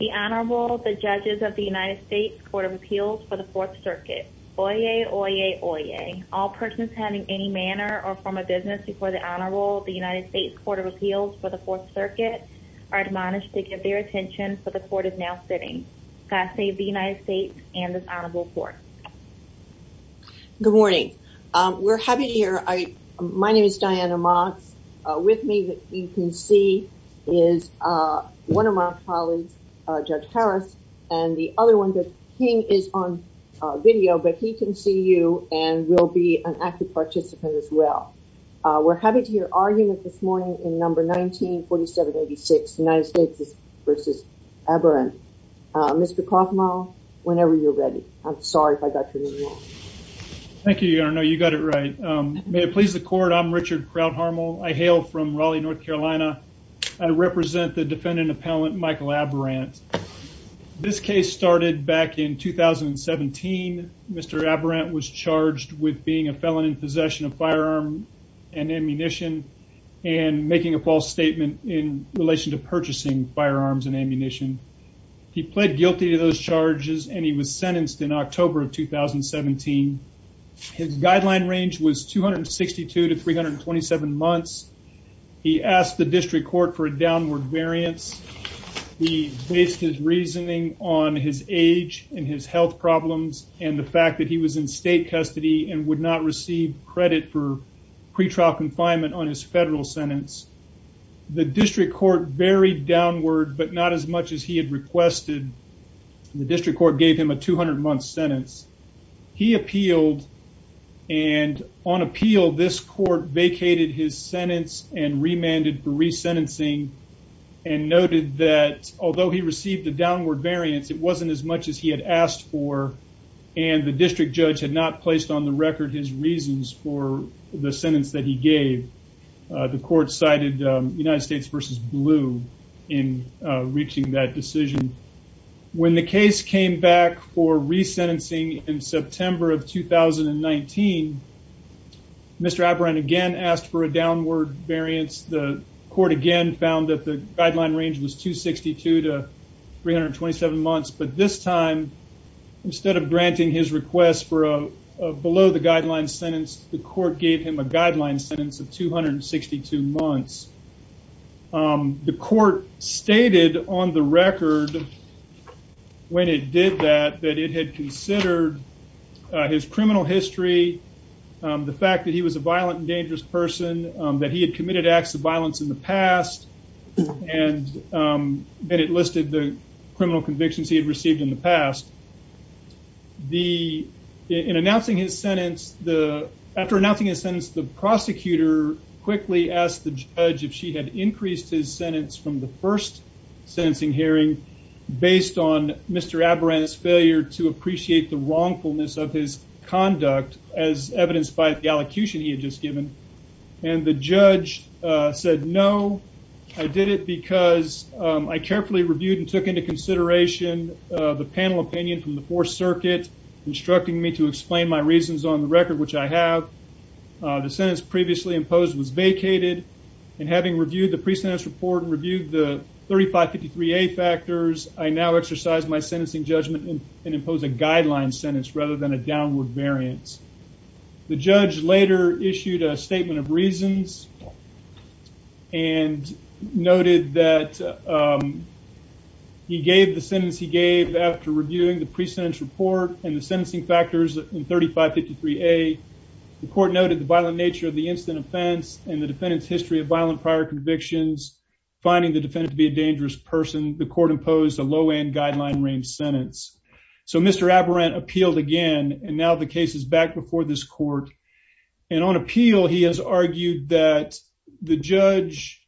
The Honorable, the Judges of the United States Court of Appeals for the Fourth Circuit. Oyez, oyez, oyez. All persons having any manner or form of business before the Honorable, the United States Court of Appeals for the Fourth Circuit are admonished to give their attention for the Court is now sitting. God save the United States and this Honorable Court. Good morning. We're happy to hear. My name is Diana Motz. With me that you can see is one of my colleagues, Judge Harris, and the other one that King is on video, but he can see you and will be an active participant as well. We're happy to hear our unit this morning in number 194786, United States v. Aberant. Mr. Koffmeier, whenever you're ready. I'm sorry if I got you wrong. Thank you, Diana. No, you got it right. May it please the Court. I'm Richard Krauthammer. I hail from Raleigh, North Carolina. I represent the defendant appellant Michael Aberant. This case started back in 2017. Mr. Aberant was charged with being a felon in possession of firearm and ammunition and making a false statement in relation to purchasing firearms and ammunition. He pled guilty to those charges and he was sentenced in October of 2017. His guideline range was 262 to 327 months. He asked the district court for a downward variance. He based his reasoning on his age and his health problems and the fact that he was in state custody and would not receive credit for pretrial confinement on his federal sentence. The district court varied downward, but not as much as he had requested. The district court gave him a 200-month sentence. He appealed and on appeal, this court vacated his sentence and remanded for resentencing and noted that although he received a downward variance, it wasn't as much as he had asked for and the district judge had not placed on the record his reasons for the sentence that he gave. The court cited United States v. Blue in reaching that decision. When the case came back for resentencing in September of 2019, Mr. Aberant again asked for a downward variance. The court again found that the guideline range was 262 to 327 months, but this time instead of granting his request for a below the guideline sentence, the court gave him a guideline sentence of 262 months. The court stated on the record when it did that that it had considered his criminal history, the fact that he was a violent and dangerous person, that he had committed acts of violence in the past, and that it listed the criminal convictions he had received in the past. In announcing his sentence, after announcing his sentence, the prosecutor quickly asked the judge if she had increased his sentence from the first sentencing hearing based on Mr. Aberant's failure to appreciate the wrongfulness of his conduct as evidenced by the allocution he had just given, and the judge said, no, I did it because I carefully reviewed and took into consideration the panel opinion from the Fourth Circuit, instructing me to explain my reasons on the record, which I have. The sentence previously imposed was vacated, and having reviewed the pre-sentence report and reviewed the 3553A factors, I now exercise my sentencing judgment and impose a guideline sentence rather than a downward variance. The judge later issued a statement of reasons and noted that he gave the sentence he gave after reviewing the pre-sentence report and the sentencing factors in 3553A. The court noted the violent nature of the incident offense and the defendant's history of violent prior convictions, finding the defendant to be a dangerous person. The court imposed a low-end guideline range sentence. So Mr. Aberant appealed again, and now the case is back before this court. And on appeal, he has argued that the judge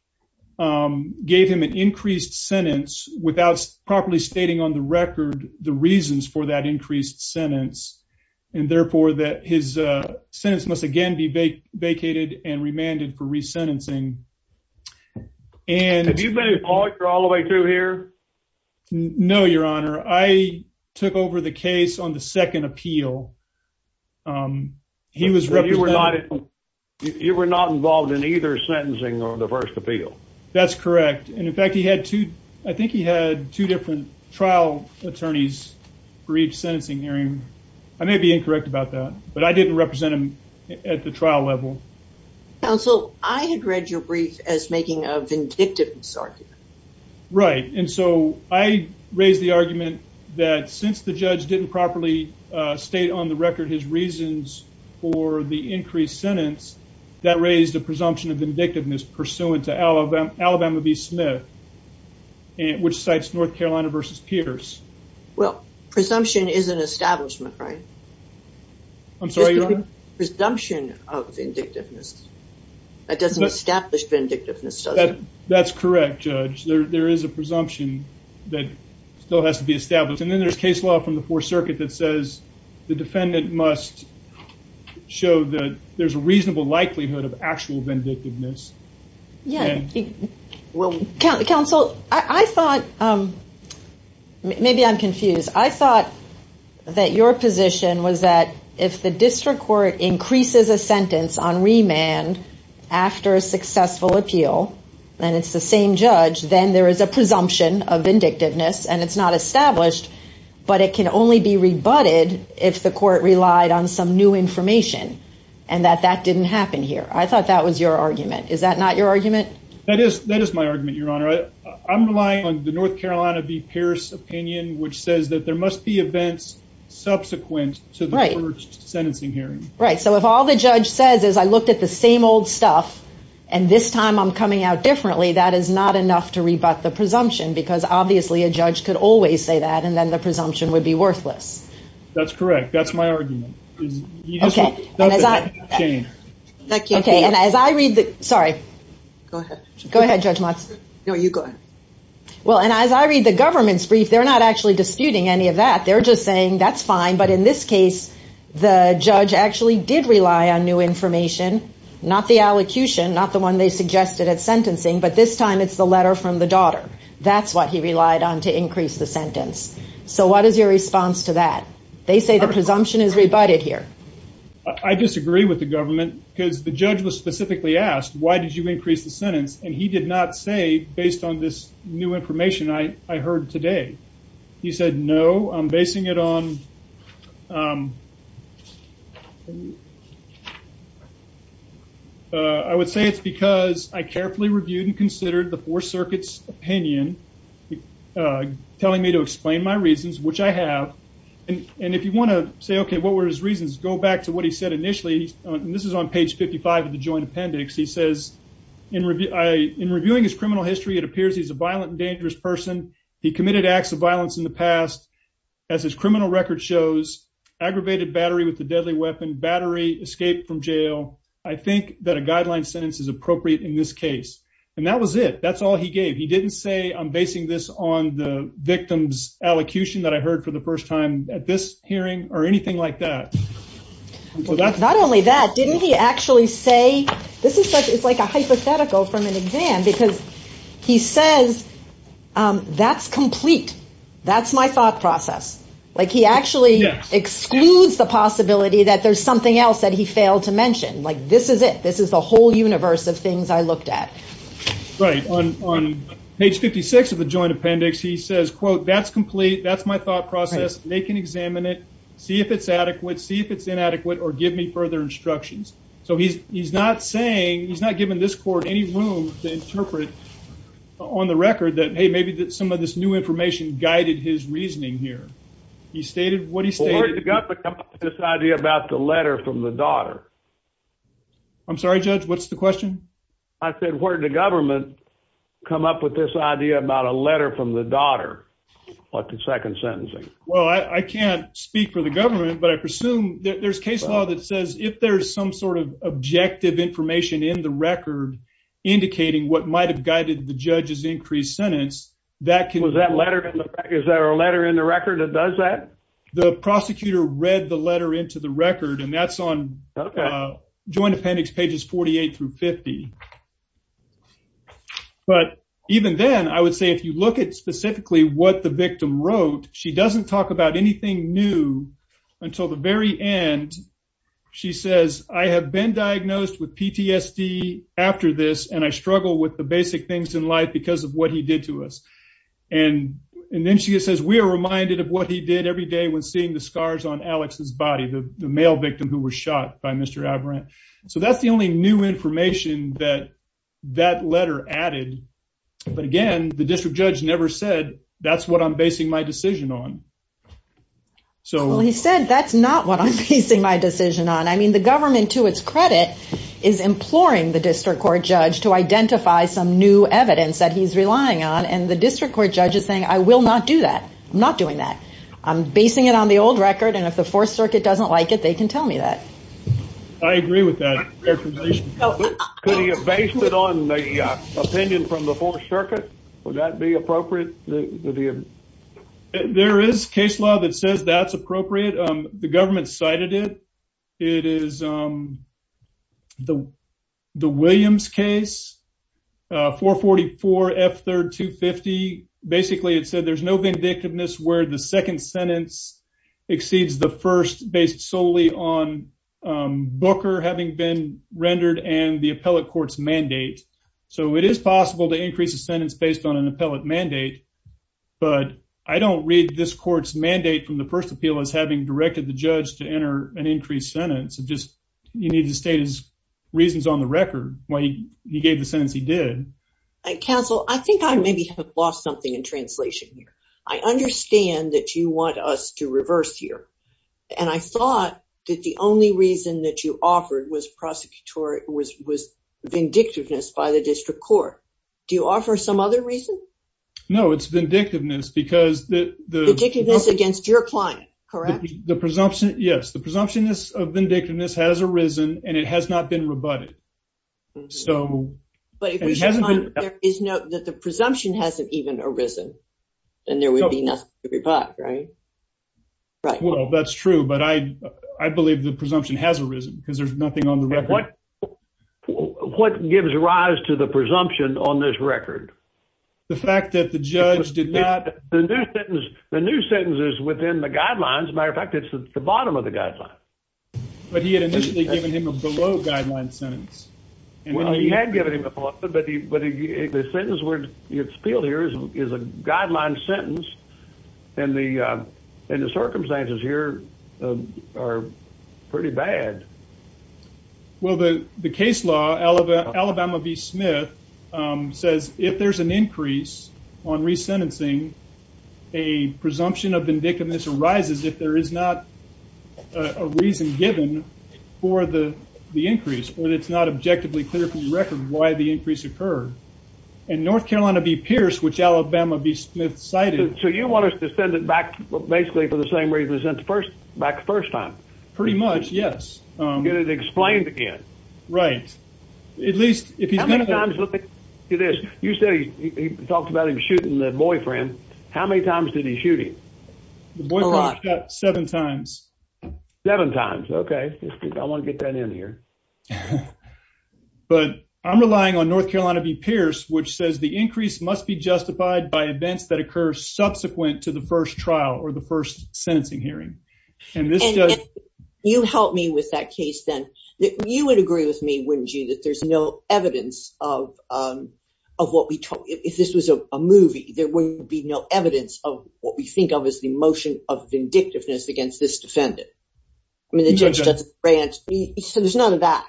gave him an increased sentence without properly stating on the record the reasons for that increased sentence, and therefore that his sentence must again be vacated and remanded for re-sentencing, and... No, Your Honor. I took over the case on the second appeal. He was representing... You were not involved in either sentencing or the first appeal? That's correct. And in fact, he had two... I think he had two different trial attorneys briefed sentencing hearing. I may be incorrect about that, but I didn't represent him at the trial level. Counsel, I had read your brief as making a vindictive misargument. Right. And so I raised the argument that since the judge didn't properly state on the record his reasons for the increased sentence, that raised a presumption of vindictiveness pursuant to Alabama v. Smith, which cites North Carolina v. Pierce. Well, presumption is an establishment, right? I'm sorry, Your Honor? Presumption of vindictiveness. That doesn't establish vindictiveness, does it? That's correct, Judge. There is a presumption that still has to be established. And then there's case law from the Fourth Circuit that says the defendant must show that there's a reasonable likelihood of actual vindictiveness. Yeah. Counsel, I thought... Maybe I'm confused. I thought that your position was that if the and it's the same judge, then there is a presumption of vindictiveness and it's not established, but it can only be rebutted if the court relied on some new information and that that didn't happen here. I thought that was your argument. Is that not your argument? That is my argument, Your Honor. I'm relying on the North Carolina v. Pierce opinion, which says that there must be events subsequent to the first sentencing hearing. Right. So if all the judge says is, I looked at the same old stuff and this time I'm coming out differently, that is not enough to rebut the presumption, because obviously a judge could always say that and then the presumption would be worthless. That's correct. That's my argument. Okay. And as I read the... Sorry. Go ahead. Go ahead, Judge Motz. No, you go ahead. Well, and as I read the government's brief, they're not actually disputing any of that. They're just saying that's fine. But in this case, the judge actually did rely on new information, not the allocution, not the one they suggested at sentencing, but this time it's the letter from the daughter. That's what he relied on to increase the sentence. So what is your response to that? They say the presumption is rebutted here. I disagree with the government, because the judge was specifically asked, why did you increase the sentence? And he did not say, based on this new information I heard today. He said, no, I'm basing it on... I would say it's because I carefully reviewed and considered the four circuits' opinion, telling me to explain my reasons, which I have. And if you want to say, okay, what were his reasons, go back to what he said initially. This is on page 55 of the joint appendix. He says, in reviewing his criminal history, it appears he's a violent and dangerous person. He committed acts of violence in the past. As his criminal record shows, aggravated battery with a deadly weapon, battery, escape from jail. I think that a guideline sentence is appropriate in this case. And that was it. That's all he gave. He didn't say, I'm basing this on the victim's allocution that I heard for the first time at this hearing or anything like that. Not only that, didn't he actually say... This is like a hypothetical from an exam because he says, that's complete. That's my thought process. Like he actually excludes the possibility that there's something else that he failed to mention. Like this is it. This is the whole universe of things I looked at. Right. On page 56 of the joint appendix, he says, quote, that's complete. That's my thought process. They can examine it, see if it's adequate, see if it's inadequate or give me further instructions. So he's not saying, he's not giving this court any room to interpret on the record that, hey, maybe some of this new information guided his reasoning here. He stated what he stated. Where did the government come up with this idea about the letter from the daughter? I'm sorry, Judge, what's the question? I said, where did the government come up with this idea about a letter from the daughter or the second sentencing? Well, I can't speak for the government, but I presume there's case law that says if there's some sort of objective information in the record indicating what might have guided the judge's increased sentence, that can- Was that letter in the record? Is there a letter in the record that does that? The prosecutor read the letter into the record and that's on joint appendix pages 48 through 50. But even then, I would say if you look at specifically what the victim wrote, she doesn't talk about anything new until the very end. She says, I have been diagnosed with PTSD after this, and I struggle with the basic things in life because of what he did to us. And then she says, we are reminded of what he did every day when seeing the scars on Alex's body, the male victim who was shot by Mr. Aberrant. So that's the only new information that that letter added. But again, the district judge never said, that's what I'm basing my decision on. Well, he said, that's not what I'm basing my decision on. I mean, the government, to its credit, is imploring the district court judge to identify some new evidence that he's relying on. And the district court judge is saying, I will not do that. I'm not doing that. I'm basing it on the old record. And if the fourth circuit doesn't like it, they can tell me that. I agree with that. Could he have based it on the opinion from the fourth circuit? Would that be appropriate? There is case law that says that's appropriate. The government cited it. It is the Williams case, 444 F3rd 250. Basically, it said there's no vindictiveness where the second sentence exceeds the first based solely on Booker having been rendered and the appellate court's mandate. So it is possible to increase a sentence based on an appellate mandate. But I don't read this court's mandate from the first appeal as having directed the judge to enter an increased sentence. You need to state his reasons on the record why he gave the sentence he did. Counsel, I think I maybe have lost something in translation here. I understand that you want us to reverse here. And I thought that the only reason that you offered was vindictiveness by the district court. Do you offer some other reason? No, it's vindictiveness. Vindictiveness against your client, correct? Yes, the presumption of vindictiveness has arisen and it has not been rebutted. That the presumption hasn't even arisen and there would be nothing to rebut, right? Well, that's true. But I believe the presumption has arisen because there's nothing on the record. What gives rise to the presumption on this record? The fact that the judge did not... The new sentence is within the guidelines. Matter of fact, it's the bottom of the guidelines. But he had initially given him a below guideline sentence. Well, he had given him a below guideline sentence, but the sentence where it's appealed here is a guideline sentence and the circumstances here are pretty bad. Well, the case law, Alabama v. Smith, says if there's an increase on resentencing, a presumption of vindictiveness arises if there is not a reason given for the increase or it's not objectively clear from the record why the increase occurred. And North Carolina v. Pierce, which Alabama v. Smith cited... So you want us to send it back basically for the same reason we sent it back the first time? Pretty much, yes. Get it explained again. Right. At least if he's going to... How many times, look at this. You said he talked about him shooting the boyfriend. How many times did he shoot him? A lot. The boyfriend shot seven times. Seven times, okay. I want to get that in here. Okay. But I'm relying on North Carolina v. Pierce, which says the increase must be justified by events that occur subsequent to the first trial or the first sentencing hearing. You help me with that case then. You would agree with me, wouldn't you, that there's no evidence of what we... If this was a movie, there wouldn't be no evidence of what we think of as the motion of vindictiveness against this defendant. I mean, the judge doesn't... He said there's none of that.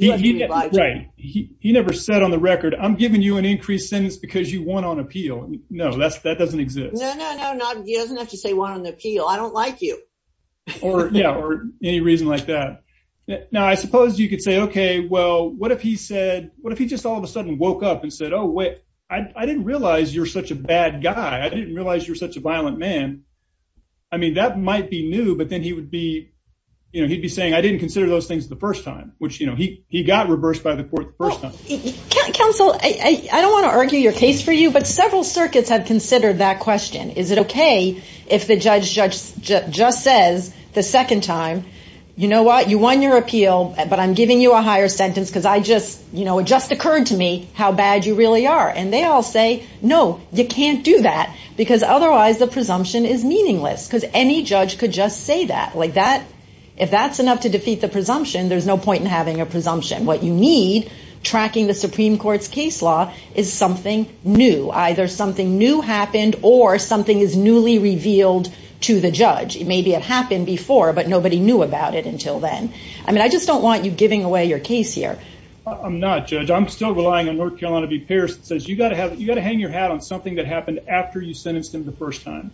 Right. He never said on the record, I'm giving you an increased sentence because you want on appeal. No, that doesn't exist. No, no, no, no. He doesn't have to say want on appeal. I don't like you. Yeah, or any reason like that. Now, I suppose you could say, okay, well, what if he said... What if he just all of a sudden woke up and said, oh, wait, I didn't realize you're such a bad guy. I didn't realize you're such a violent man. I mean, that might be new, but then he would be... Which he got reversed by the court the first time. Counsel, I don't want to argue your case for you, but several circuits have considered that question. Is it okay if the judge just says the second time, you know what, you won your appeal, but I'm giving you a higher sentence because it just occurred to me how bad you really are. And they all say, no, you can't do that because otherwise the presumption is meaningless because any judge could just say that. If that's enough to defeat the presumption, there's no point in having a presumption. What you need tracking the Supreme Court's case law is something new, either something new happened or something is newly revealed to the judge. Maybe it happened before, but nobody knew about it until then. I mean, I just don't want you giving away your case here. I'm not, Judge. I'm still relying on North Carolina v. Pierce that says you got to hang your hat on something that happened after you sentenced him the first time.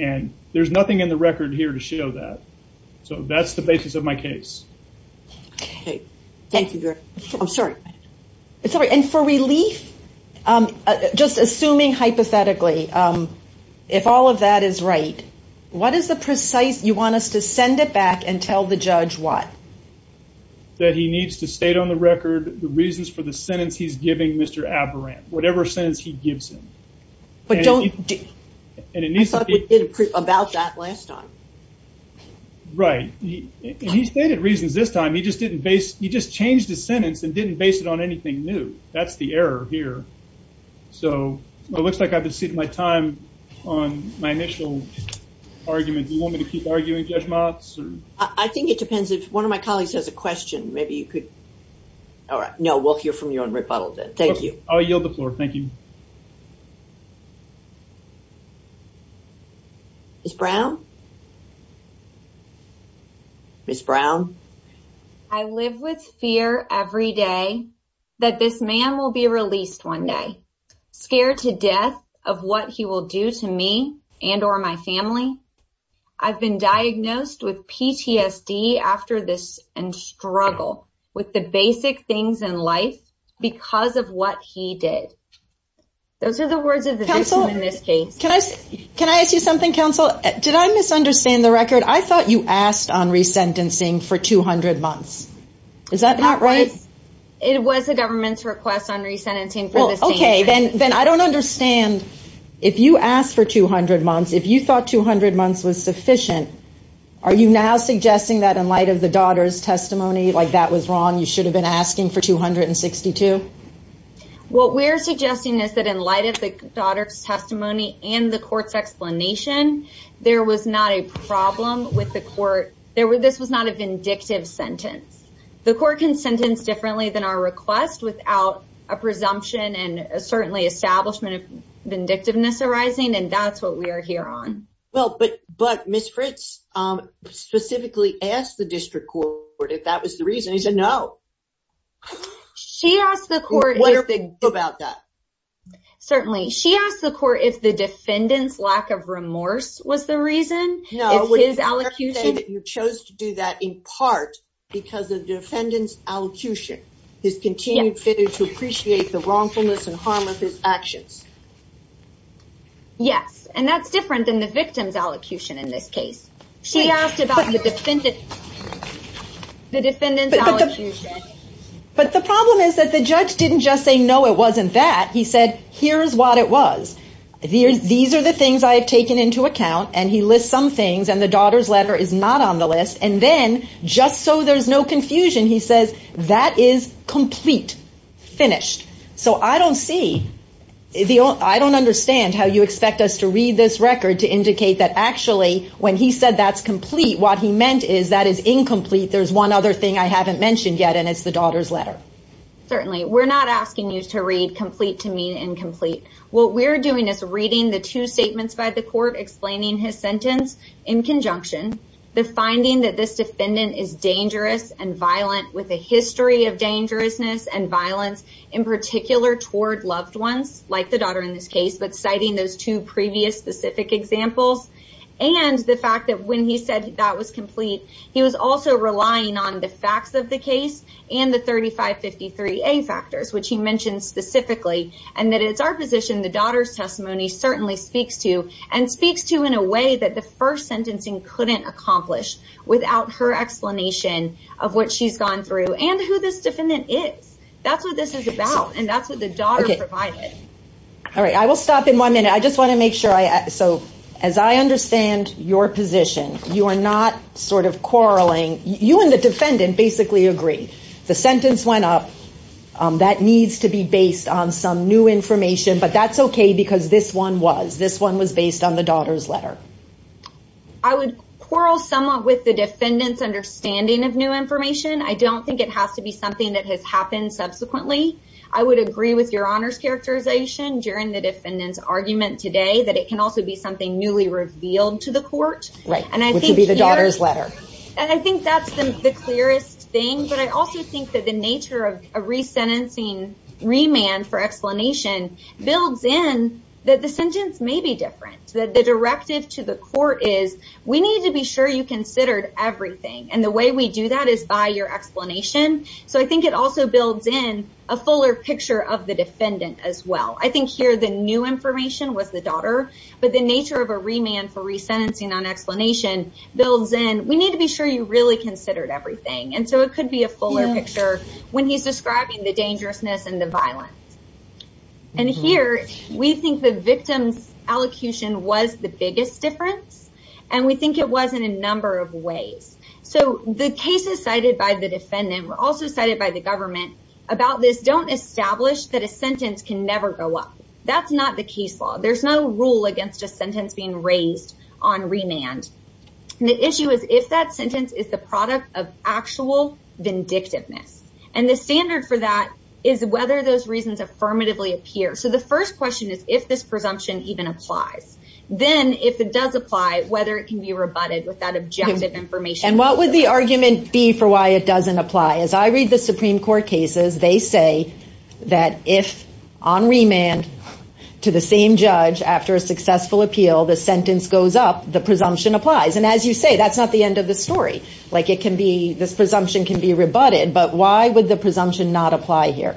And there's nothing in the record here to show that. So that's the basis of my case. Okay. Thank you, Derek. I'm sorry. It's all right. And for relief, just assuming hypothetically, if all of that is right, what is the precise, you want us to send it back and tell the judge what? That he needs to state on the record the reasons for the sentence he's giving Mr. Aberrant, whatever sentence he gives him. But don't, I thought we did about that last time. Right. He stated reasons this time. He just didn't base, he just changed his sentence and didn't base it on anything new. That's the error here. So it looks like I've exceeded my time on my initial argument. Do you want me to keep arguing, Judge Motz? I think it depends. If one of my colleagues has a question, maybe you could. All right. No, we'll hear from you on rebuttal then. Thank you. I'll yield the floor. Thank you. Ms. Brown? Ms. Brown? I live with fear every day that this man will be released one day. Scared to death of what he will do to me and or my family. I've been diagnosed with PTSD after this and struggle with the basic things in life because of what he did. Those are the words of the victim in this case. Can I ask you something, counsel? Did I misunderstand the record? I thought you asked on resentencing for 200 months. Is that not right? It was the government's request on resentencing for the same time. Well, okay, then I don't understand. If you asked for 200 months, if you thought 200 months was sufficient, are you now suggesting that in light of the daughter's testimony, like that was wrong, you should have been asking for 262? What we're suggesting is that in light of the daughter's testimony and the court's explanation, there was not a problem with the court. This was not a vindictive sentence. The court can sentence differently than our request without a presumption and certainly establishment of vindictiveness arising, and that's what we are here on. Well, but Ms. Fritz specifically asked the district court if that was the reason. He said no. What do you think about that? Certainly. She asked the court if the defendant's lack of remorse was the reason, if his allocution- No, would you say that you chose to do that in part because of the defendant's allocution, his continued failure to appreciate the wrongfulness and harm of his actions? Yes, and that's different than the victim's allocution in this case. She asked about the defendant's allocution. But the problem is that the judge didn't just say, no, it wasn't that. He said, here's what it was. These are the things I have taken into account, and he lists some things, and the daughter's letter is not on the list. And then, just so there's no confusion, he says, that is complete, finished. So I don't see, I don't understand how you expect us to read this record to indicate that actually, when he said that's complete, what he meant is that is incomplete. There's one other thing I haven't mentioned yet, and it's the daughter's letter. Certainly. We're not asking you to read complete to mean incomplete. What we're doing is reading the two statements by the court explaining his sentence in conjunction, the finding that this defendant is dangerous and violent with a history of dangerousness and violence, in particular toward loved ones, like the daughter in this case. But citing those two previous specific examples, and the fact that when he said that was complete, he was also relying on the facts of the case and the 3553A factors, which he mentioned specifically, and that it's our position the daughter's testimony certainly speaks to, and speaks to in a way that the first sentencing couldn't accomplish without her explanation of what she's gone through and who this defendant is. That's what this is about, and that's what the daughter provided. All right. I will stop in one minute. I just want to make sure, so as I understand your position, you are not sort of quarreling. You and the defendant basically agree. The sentence went up. That needs to be based on some new information, but that's okay because this one was. This one was based on the daughter's letter. I would quarrel somewhat with the defendant's understanding of new information. I don't think it has to be something that has happened subsequently. I would agree with your honors characterization during the defendant's argument today that it can also be something newly revealed to the court. Right, which would be the daughter's letter. And I think that's the clearest thing, but I also think that the nature of a resentencing remand for explanation builds in that the sentence may be different, that the directive to the court is we need to be sure you considered everything, and the way we do that is by your explanation. So I think it also builds in a fuller picture of the defendant as well. I think here the new information was the daughter, but the nature of a remand for resentencing on explanation builds in, we need to be sure you really considered everything. And so it could be a fuller picture when he's describing the dangerousness and the violence. And here, we think the victim's allocution was the biggest difference, and we think it was in a number of ways. So the cases cited by the defendant were also cited by the government about this don't establish that a sentence can never go up. That's not the case law. There's no rule against a sentence being raised on remand. The issue is if that sentence is the product of actual vindictiveness. And the standard for that is whether those reasons affirmatively appear. So the first question is if this presumption even applies, then if it does apply, whether it can be rebutted with that objective information. And what would the argument be for why it doesn't apply? As I read the Supreme Court cases, they say that if on remand to the same judge after a successful appeal, the sentence goes up, the presumption applies. And as you say, that's not the end of the story. This presumption can be rebutted, but why would the presumption not apply here?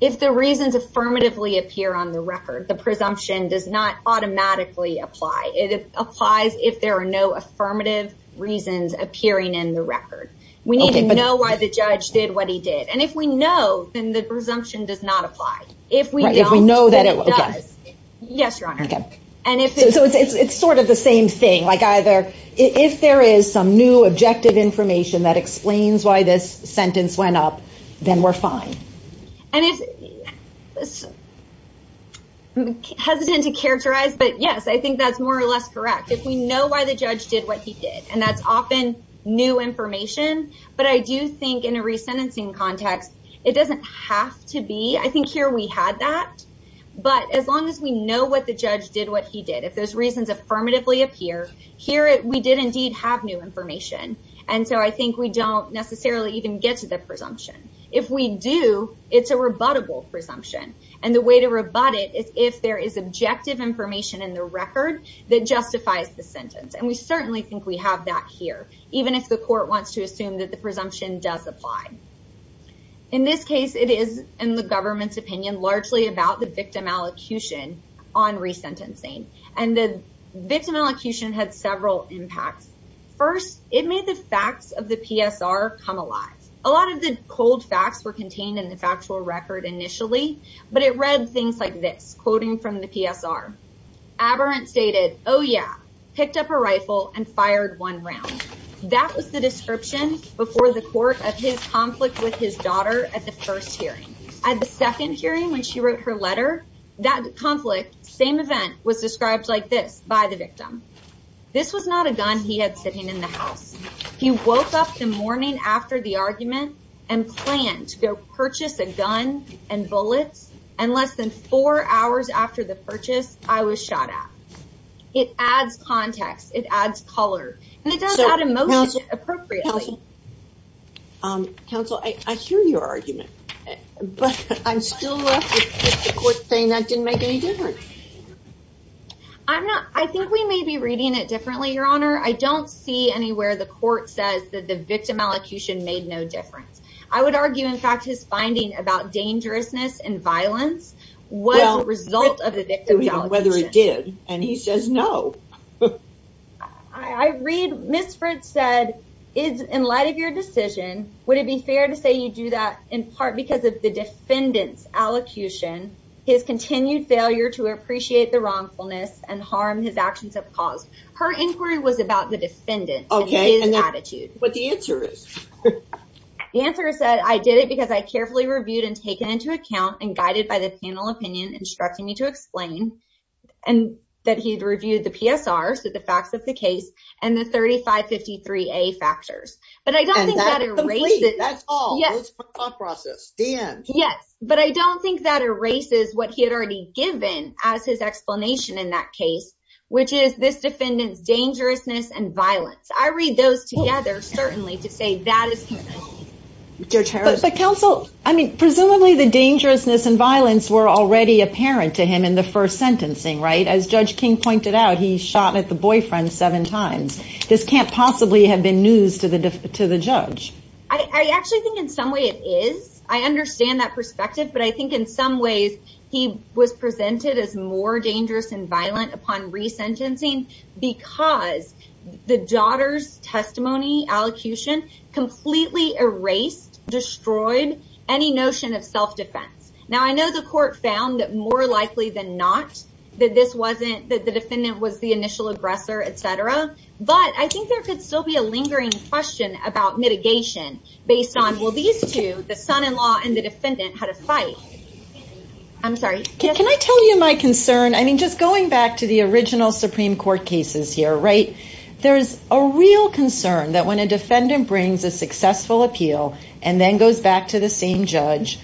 If the reasons affirmatively appear on the record, the presumption does not automatically apply. It applies if there are no affirmative reasons appearing in the record. We need to know why the judge did what he did. And if we know, then the presumption does not apply. If we know that it does, yes, Your Honor. And so it's sort of the same thing. Like either if there is some new objective information that explains why this sentence went up, then we're fine. And I'm hesitant to characterize, but yes, I think that's more or less correct. If we know why the judge did what he did, and that's often new information. But I do think in a resentencing context, it doesn't have to be. I think here we had that. But as long as we know what the judge did what he did, if those reasons affirmatively appear, here we did indeed have new information. And so I think we don't necessarily even get to the presumption. If we do, it's a rebuttable presumption. And the way to rebut it is if there is objective information in the record that justifies the sentence. And we certainly think we have that here, even if the court wants to assume that the presumption does apply. In this case, it is, in the government's opinion, largely about the victim allocution on resentencing. And the victim allocution had several impacts. First, it made the facts of the PSR come alive. A lot of the cold facts were contained in the factual record initially, but it read things like this, quoting from the PSR. Aberrant stated, oh yeah, picked up a rifle and fired one round. That was the description before the court of his conflict with his daughter at the first hearing. At the second hearing, when she wrote her letter, that conflict, same event, was described like this by the victim. This was not a gun he had sitting in the house. He woke up the morning after the argument and planned to go purchase a gun and bullets. And less than four hours after the purchase, I was shot at. It adds context. It adds color. And it does add emotion appropriately. Counsel, I hear your argument, but I'm still left with the court saying that didn't make any difference. I think we may be reading it differently, Your Honor. I don't see anywhere the court says that the victim allocution made no difference. I would argue, in fact, his finding about dangerousness and violence was a result of the victim's allocution. Whether it did. And he says no. I read Ms. Fritz said, in light of your decision, would it be fair to say you do that in part because of the defendant's allocution, his continued failure to appreciate the wrongfulness and harm his actions have caused? Her inquiry was about the defendant, his attitude. But the answer is? The answer is that I did it because I carefully reviewed and taken into account and guided by the panel opinion instructing me to explain and that he had reviewed the PSRs, the facts of the case, and the 3553A factors. But I don't think that erases. That's all. It's a thought process. The end. Yes, but I don't think that erases what he had already given as his explanation in that case, which is this defendant's dangerousness and violence. I read those together, certainly, to say that is. But counsel, I mean, presumably the dangerousness and violence were already apparent to him in the first sentencing, right? As Judge King pointed out, he shot at the boyfriend seven times. This can't possibly have been news to the judge. I actually think in some way it is. I understand that perspective, but I think in some ways he was presented as more dangerous and violent upon resentencing because the daughter's testimony, allocution, completely erased, destroyed any notion of self-defense. Now, I know the court found that more likely than not, that this wasn't that the defendant was the initial aggressor, etc. But I think there could still be a lingering question about mitigation based on, well, these two, the son-in-law and the defendant had a fight. Can I tell you my concern? I mean, just going back to the original Supreme Court cases here, right? There's a real concern that when a defendant brings a successful appeal and then goes back to the same judge,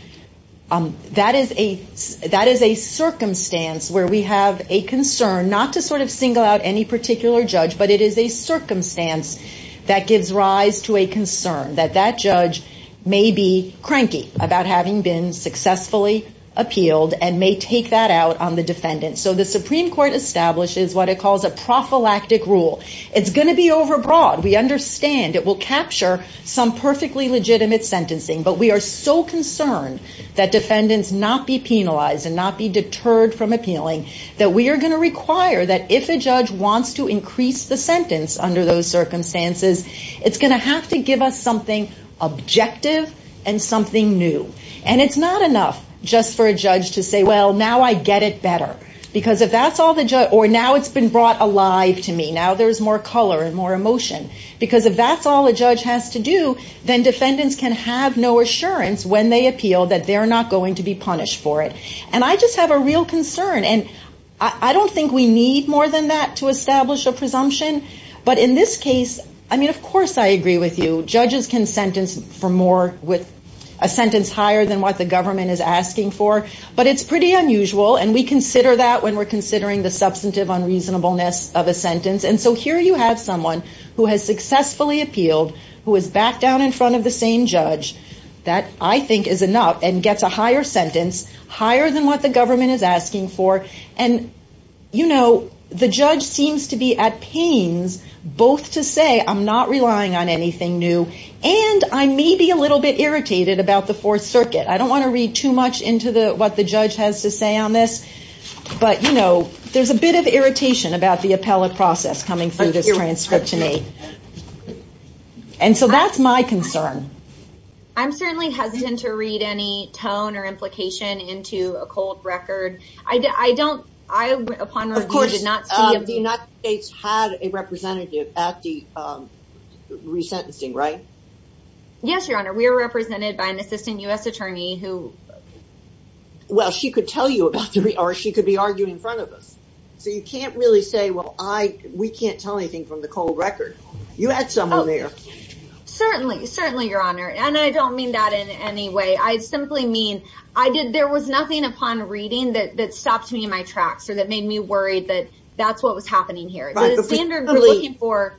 that is a circumstance where we have a concern, not to sort of single out any particular judge, but it is a circumstance that gives rise to a concern that that judge may be cranky about having been successfully appealed and may take that out on the defendant. So the Supreme Court establishes what it calls a prophylactic rule. It's going to be overbroad. We understand it will capture some perfectly legitimate sentencing, but we are so concerned that defendants not be penalized and not be deterred from appealing that we are going to require that if a judge wants to increase the sentence under those circumstances, it's going to have to give us something objective and something new. And it's not enough just for a judge to say, well, now I get it better because if that's all the judge, or now it's been brought alive to me, now there's more color and more emotion because if that's all a judge has to do, then defendants can have no assurance when they appeal that they're not going to be punished for it. And I just have a real concern. And I don't think we need more than that to establish a presumption. But in this case, I mean, of course, I agree with you. Judges can sentence for more with a sentence higher than what the government is asking for, but it's pretty unusual. And we consider that when we're considering the substantive unreasonableness of a sentence. And so here you have someone who has successfully appealed, who is back down in front of the same judge that I think is enough and gets a higher sentence, higher than what the government is asking for. And the judge seems to be at pains both to say, I'm not relying on anything new, and I may be a little bit irritated about the Fourth Circuit. I don't want to read too much into what the judge has to say on this, but there's a bit of irritation about the appellate process coming through this transcription aid. And so that's my concern. I'm certainly hesitant to read any tone or implication into a cold record. I don't... Of course, the United States had a representative at the resentencing, right? Yes, Your Honor. We were represented by an assistant U.S. attorney who... Well, she could tell you about three or she could be arguing in front of us. So you can't really say, well, we can't tell anything from the cold record. You had someone there. Certainly, certainly, Your Honor. And I don't mean that in any way. I simply mean there was nothing upon reading that stopped me in my tracks or that made me worried that that's what was happening here. The standard we're looking for...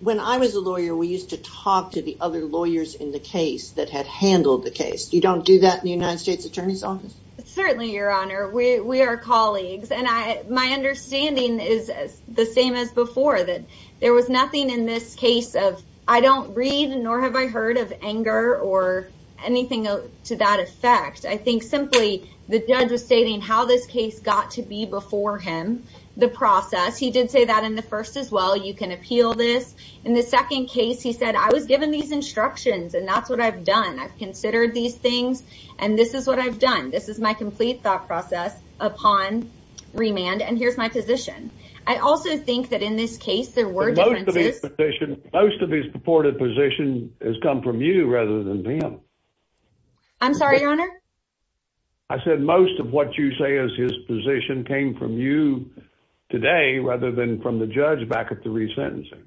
When I was a lawyer, we used to talk to the other lawyers in the case that had handled the case. You don't do that in the United States Attorney's Office? Certainly, Your Honor. We are colleagues. And my understanding is the same as before, that there was nothing in this case of, I don't read nor have I heard of anger or anything to that effect. I think simply the judge was stating how this case got to be before him, the process. He did say that in the first as well. You can appeal this. In the second case, he said, I was given these instructions and that's what I've done. I've considered these things and this is what I've done. This is my complete thought process upon remand. And here's my position. I also think that in this case, there were differences. Most of his purported position has come from you rather than him. I'm sorry, Your Honor? I said most of what you say is his position came from you today rather than from the judge back at the resentencing.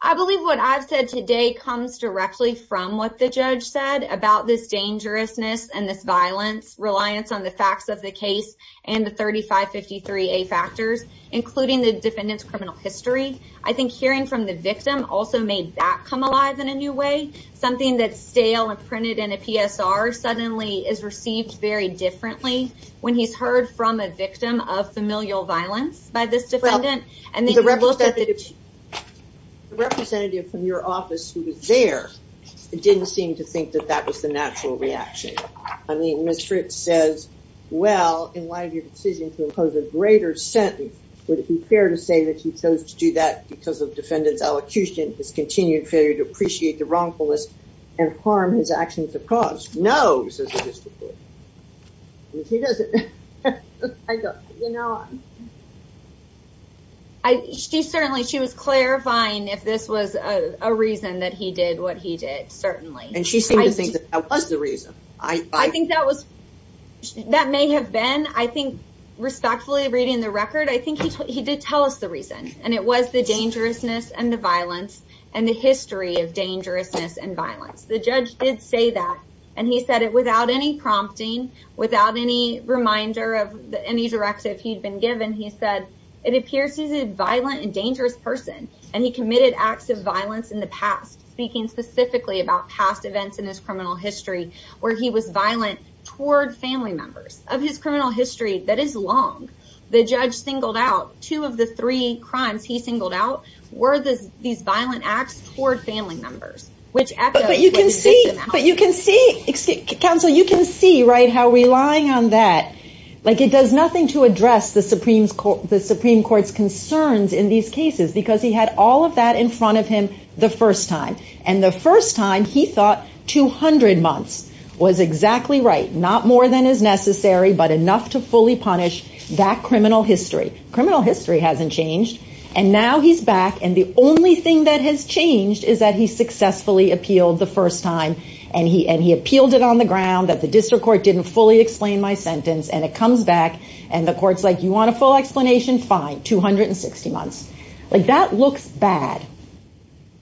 I believe what I've said today comes directly from what the judge said about this dangerousness and this violence, reliance on the facts of the case and the 3553A factors, including the defendant's criminal history. I think hearing from the victim also made that come alive in a new way. Something that's stale and printed in a PSR suddenly is received very differently when he's heard from a victim of familial violence by this defendant. And then you look at the... The representative from your office who was there didn't seem to think that that was the natural reaction. I mean, Ms. Fritz says, well, in light of your decision to impose a greater sentence, would it be fair to say that he chose to do that because of defendant's elocution, his continued failure to appreciate the wrongfulness and harm his actions have caused? No, says the district court. I mean, she doesn't... I don't, you know... I... She certainly, she was clarifying if this was a reason that he did what he did, certainly. And she seemed to think that was the reason. I think that was... That may have been, I think, respectfully reading the record, I think he did tell us the reason and it was the dangerousness and the violence and the history of dangerousness and violence. The judge did say that and he said it without any prompting, without any reminder of any directive he'd been given. He said, it appears he's a violent and dangerous person and he committed acts of violence in the past, speaking specifically about past events in his criminal history where he was violent toward family members. Of his criminal history, that is long. The judge singled out two of the three crimes he singled out were these violent acts toward family members, which echoes what you just said. But you can see, counsel, you can see, right, how relying on that, like it does nothing to address the Supreme Court's concerns in these cases because he had all of that in front of him the first time. And the first time he thought 200 months was exactly right. Not more than is necessary, but enough to fully punish that criminal history. Criminal history hasn't changed. And now he's back and the only thing that has changed is that he successfully appealed the first time. And he appealed it on the ground that the district court didn't fully explain my sentence and it comes back and the court's like, you want a full explanation? Fine, 260 months. Like that looks bad.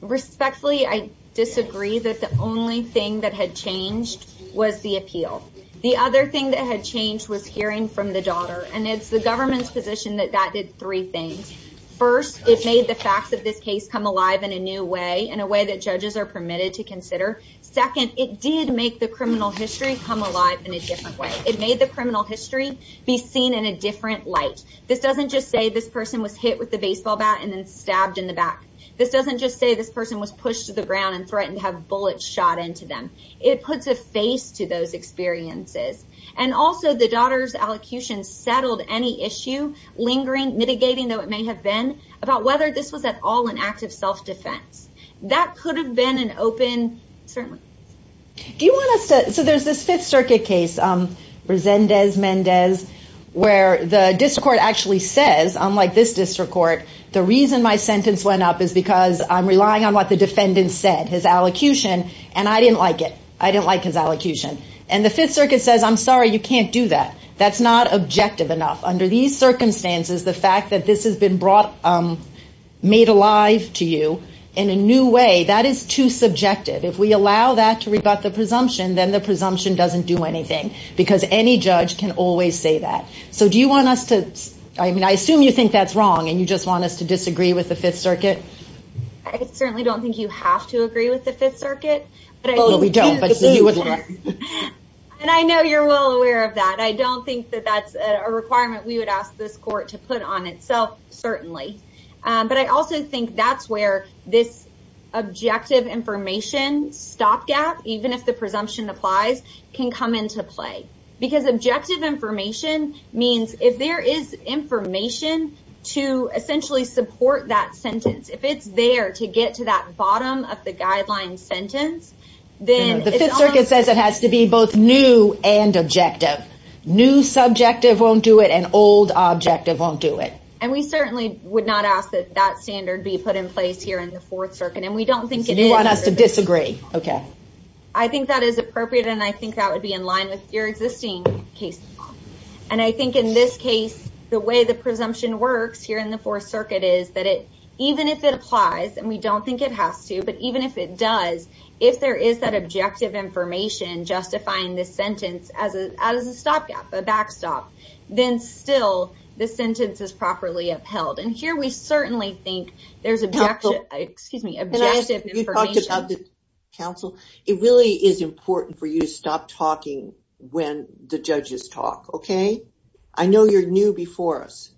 Respectfully, I disagree that the only thing that had changed was the appeal. The other thing that had changed was hearing from the daughter. And it's the government's position that that did three things. First, it made the facts of this case come alive in a new way, in a way that judges are permitted to consider. Second, it did make the criminal history come alive in a different way. It made the criminal history be seen in a different light. This doesn't just say this person was hit with the baseball bat and then stabbed in the back. This doesn't just say this person was pushed to the ground and threatened to have bullets shot into them. It puts a face to those experiences. And also the daughter's allocution settled any issue lingering, mitigating, though it may have been about whether this was at all an act of self-defense. That could have been an open ceremony. So there's this Fifth Circuit case, Resendez-Mendez, where the district court actually says, unlike this district court, the reason my sentence went up is because I'm relying on what the defendant said, his allocution, and I didn't like it. I didn't like his allocution. And the Fifth Circuit says, I'm sorry, you can't do that. That's not objective enough. Under these circumstances, the fact that this has been brought, made alive to you in a new way, that is too subjective. If we allow that to rebut the presumption, then the presumption doesn't do anything because any judge can always say that. So do you want us to, I mean, I assume you think that's wrong and you just want us to disagree with the Fifth Circuit. I certainly don't think you have to agree with the Fifth Circuit. No, we don't. And I know you're well aware of that. I don't think that that's a requirement we would ask this court to put on itself, certainly. But I also think that's where this objective information stopgap, even if the presumption applies, can come into play. Because objective information means if there is information to essentially support that sentence, if it's there to get to that bottom of the guideline sentence, then the Fifth Circuit says it has to be both new and objective. New subjective won't do it and old objective won't do it. And we certainly would not ask that that standard be put in place here in the Fourth Circuit. And we don't think it is. You want us to disagree, OK. I think that is appropriate and I think that would be in line with your existing case law. And I think in this case, the way the presumption works here in the Fourth Circuit is that even if it applies, and we don't think it has to, but even if it does, if there is that objective information justifying this sentence as a stopgap, a backstop, then still the sentence is properly upheld. And here we certainly think there's objective, excuse me, objective information. You talked about the counsel. It really is important for you to stop talking when the judges talk, OK. I know you're new before us,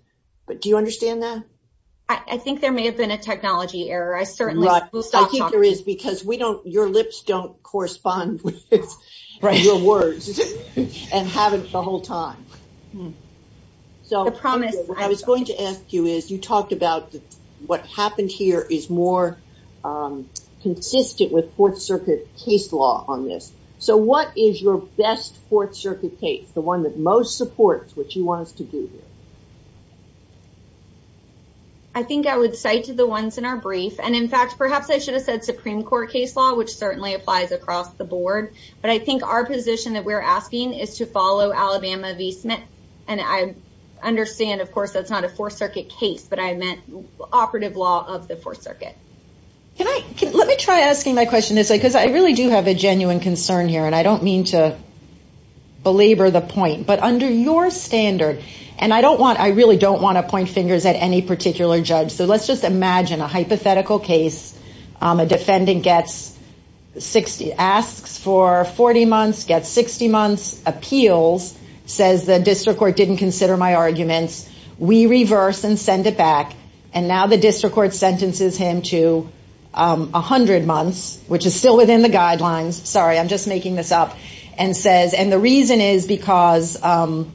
but do you understand that? I think there may have been a technology error. I certainly will stop talking. I think there is, because we don't, your lips don't correspond with your words and haven't the whole time. So what I was going to ask you is you talked about what happened here is more consistent with Fourth Circuit case law on this. So what is your best Fourth Circuit case, the one that most supports what you want us to do here? I think I would cite the ones in our brief. And in fact, perhaps I should have said Supreme Court case law, which certainly applies across the board. But I think our position that we're asking is to follow Alabama v. Smith. And I understand, of course, that's not a Fourth Circuit case, but I meant operative law of the Fourth Circuit. Can I, let me try asking my question this way, because I really do have a genuine concern here. And I don't mean to belabor the point, but under your standard, and I don't want, I really don't want to point fingers at any particular judge. So let's just imagine a hypothetical case. A defendant gets 60, asks for 40 months, gets 60 months, appeals, says the district court didn't consider my arguments. We reverse and send it back. And now the district court sentences him to 100 months, which is still within the guidelines. Sorry, I'm just making this up. And says, and the reason is because there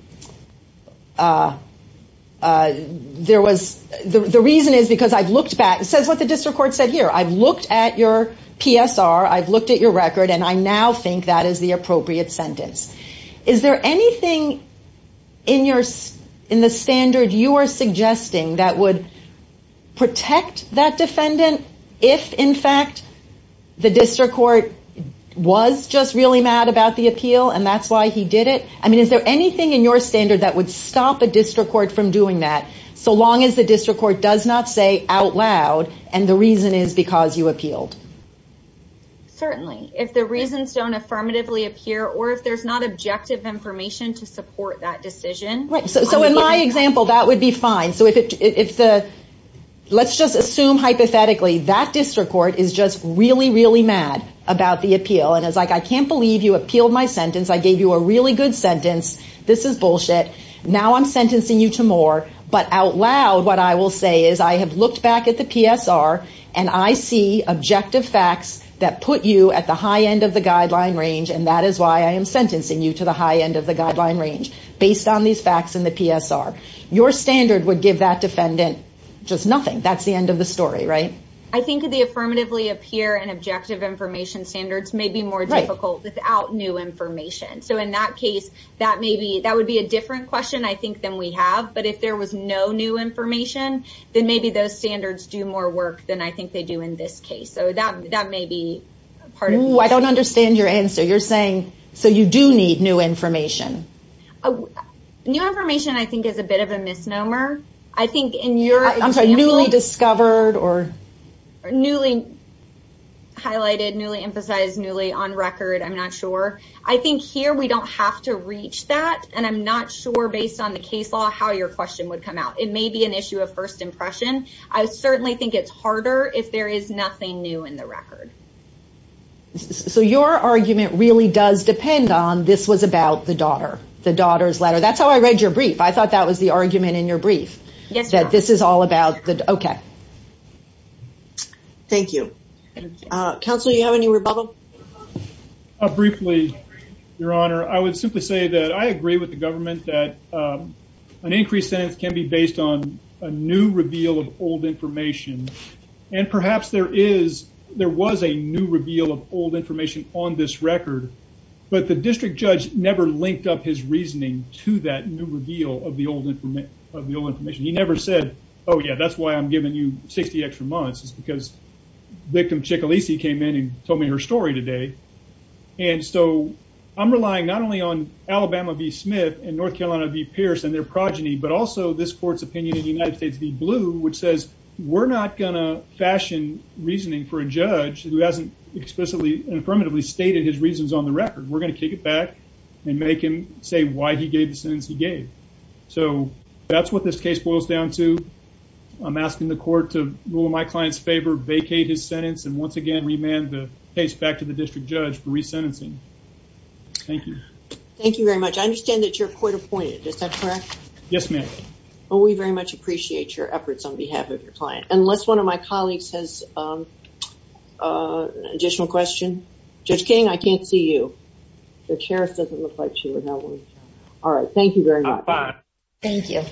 was, the reason is because I've looked back, says what the district court said here. I've looked at your PSR. I've looked at your record. And I now think that is the appropriate sentence. Is there anything in your, in the standard you are suggesting that would protect that defendant? If in fact, the district court was just really mad about the appeal. And that's why he did it. I mean, is there anything in your standard that would stop a district court from doing that? So long as the district court does not say out loud. And the reason is because you appealed. Certainly, if the reasons don't affirmatively appear, or if there's not objective information to support that decision. So in my example, that would be fine. So if the, let's just assume hypothetically that district court is just really, really mad about the appeal. And it's like, I can't believe you appealed my sentence. I gave you a really good sentence. This is bullshit. Now I'm sentencing you to more. But out loud, what I will say is I have looked back at the PSR and I see objective facts that put you at the high end of the guideline range. And that is why I am sentencing you to the high end of the guideline range based on these facts in the PSR. Your standard would give that defendant just nothing. That's the end of the story, right? I think the affirmatively appear and objective information standards may be more difficult without new information. So in that case, that may be, that would be a different question I think than we have. But if there was no new information, then maybe those standards do more work than I think they do in this case. So that may be part of it. I don't understand your answer. You're saying, so you do need new information. Oh, new information, I think is a bit of a misnomer. I think in your newly discovered or newly highlighted, newly emphasized, newly on record, I'm not sure. I think here we don't have to reach that. And I'm not sure based on the case law, how your question would come out. It may be an issue of first impression. I certainly think it's harder if there is nothing new in the record. So your argument really does depend on this was about the daughter, the daughter's letter. That's how I read your brief. I thought that was the argument in your brief. Yes, that this is all about the, OK. Thank you. Counselor, you have any rebuttal? Briefly, Your Honor, I would simply say that I agree with the government that an increased sentence can be based on a new reveal of old information. And perhaps there is, there was a new reveal of old information on this record. But the district judge never linked up his reasoning to that new reveal of the old information. He never said, oh yeah, that's why I'm giving you 60 extra months. It's because victim Chickalisi came in and told me her story today. And so I'm relying not only on Alabama v. Smith and North Carolina v. Pierce and their progeny, but also this court's opinion in the United States v. Blue, which says we're not gonna fashion reasoning for a judge who hasn't explicitly and affirmatively stated his reasons on the record. We're gonna kick it back and make him say why he gave the sentence he gave. So that's what this case boils down to. I'm asking the court to rule in my client's favor, vacate his sentence, and once again, remand the case back to the district judge for resentencing. Thank you. Thank you very much. I understand that you're court appointed. Is that correct? Yes, ma'am. Well, we very much appreciate your efforts on behalf of your client. Unless one of my colleagues has an additional question. Judge King, I can't see you. Judge Harris doesn't look like she would know. All right. Thank you very much. Thank you.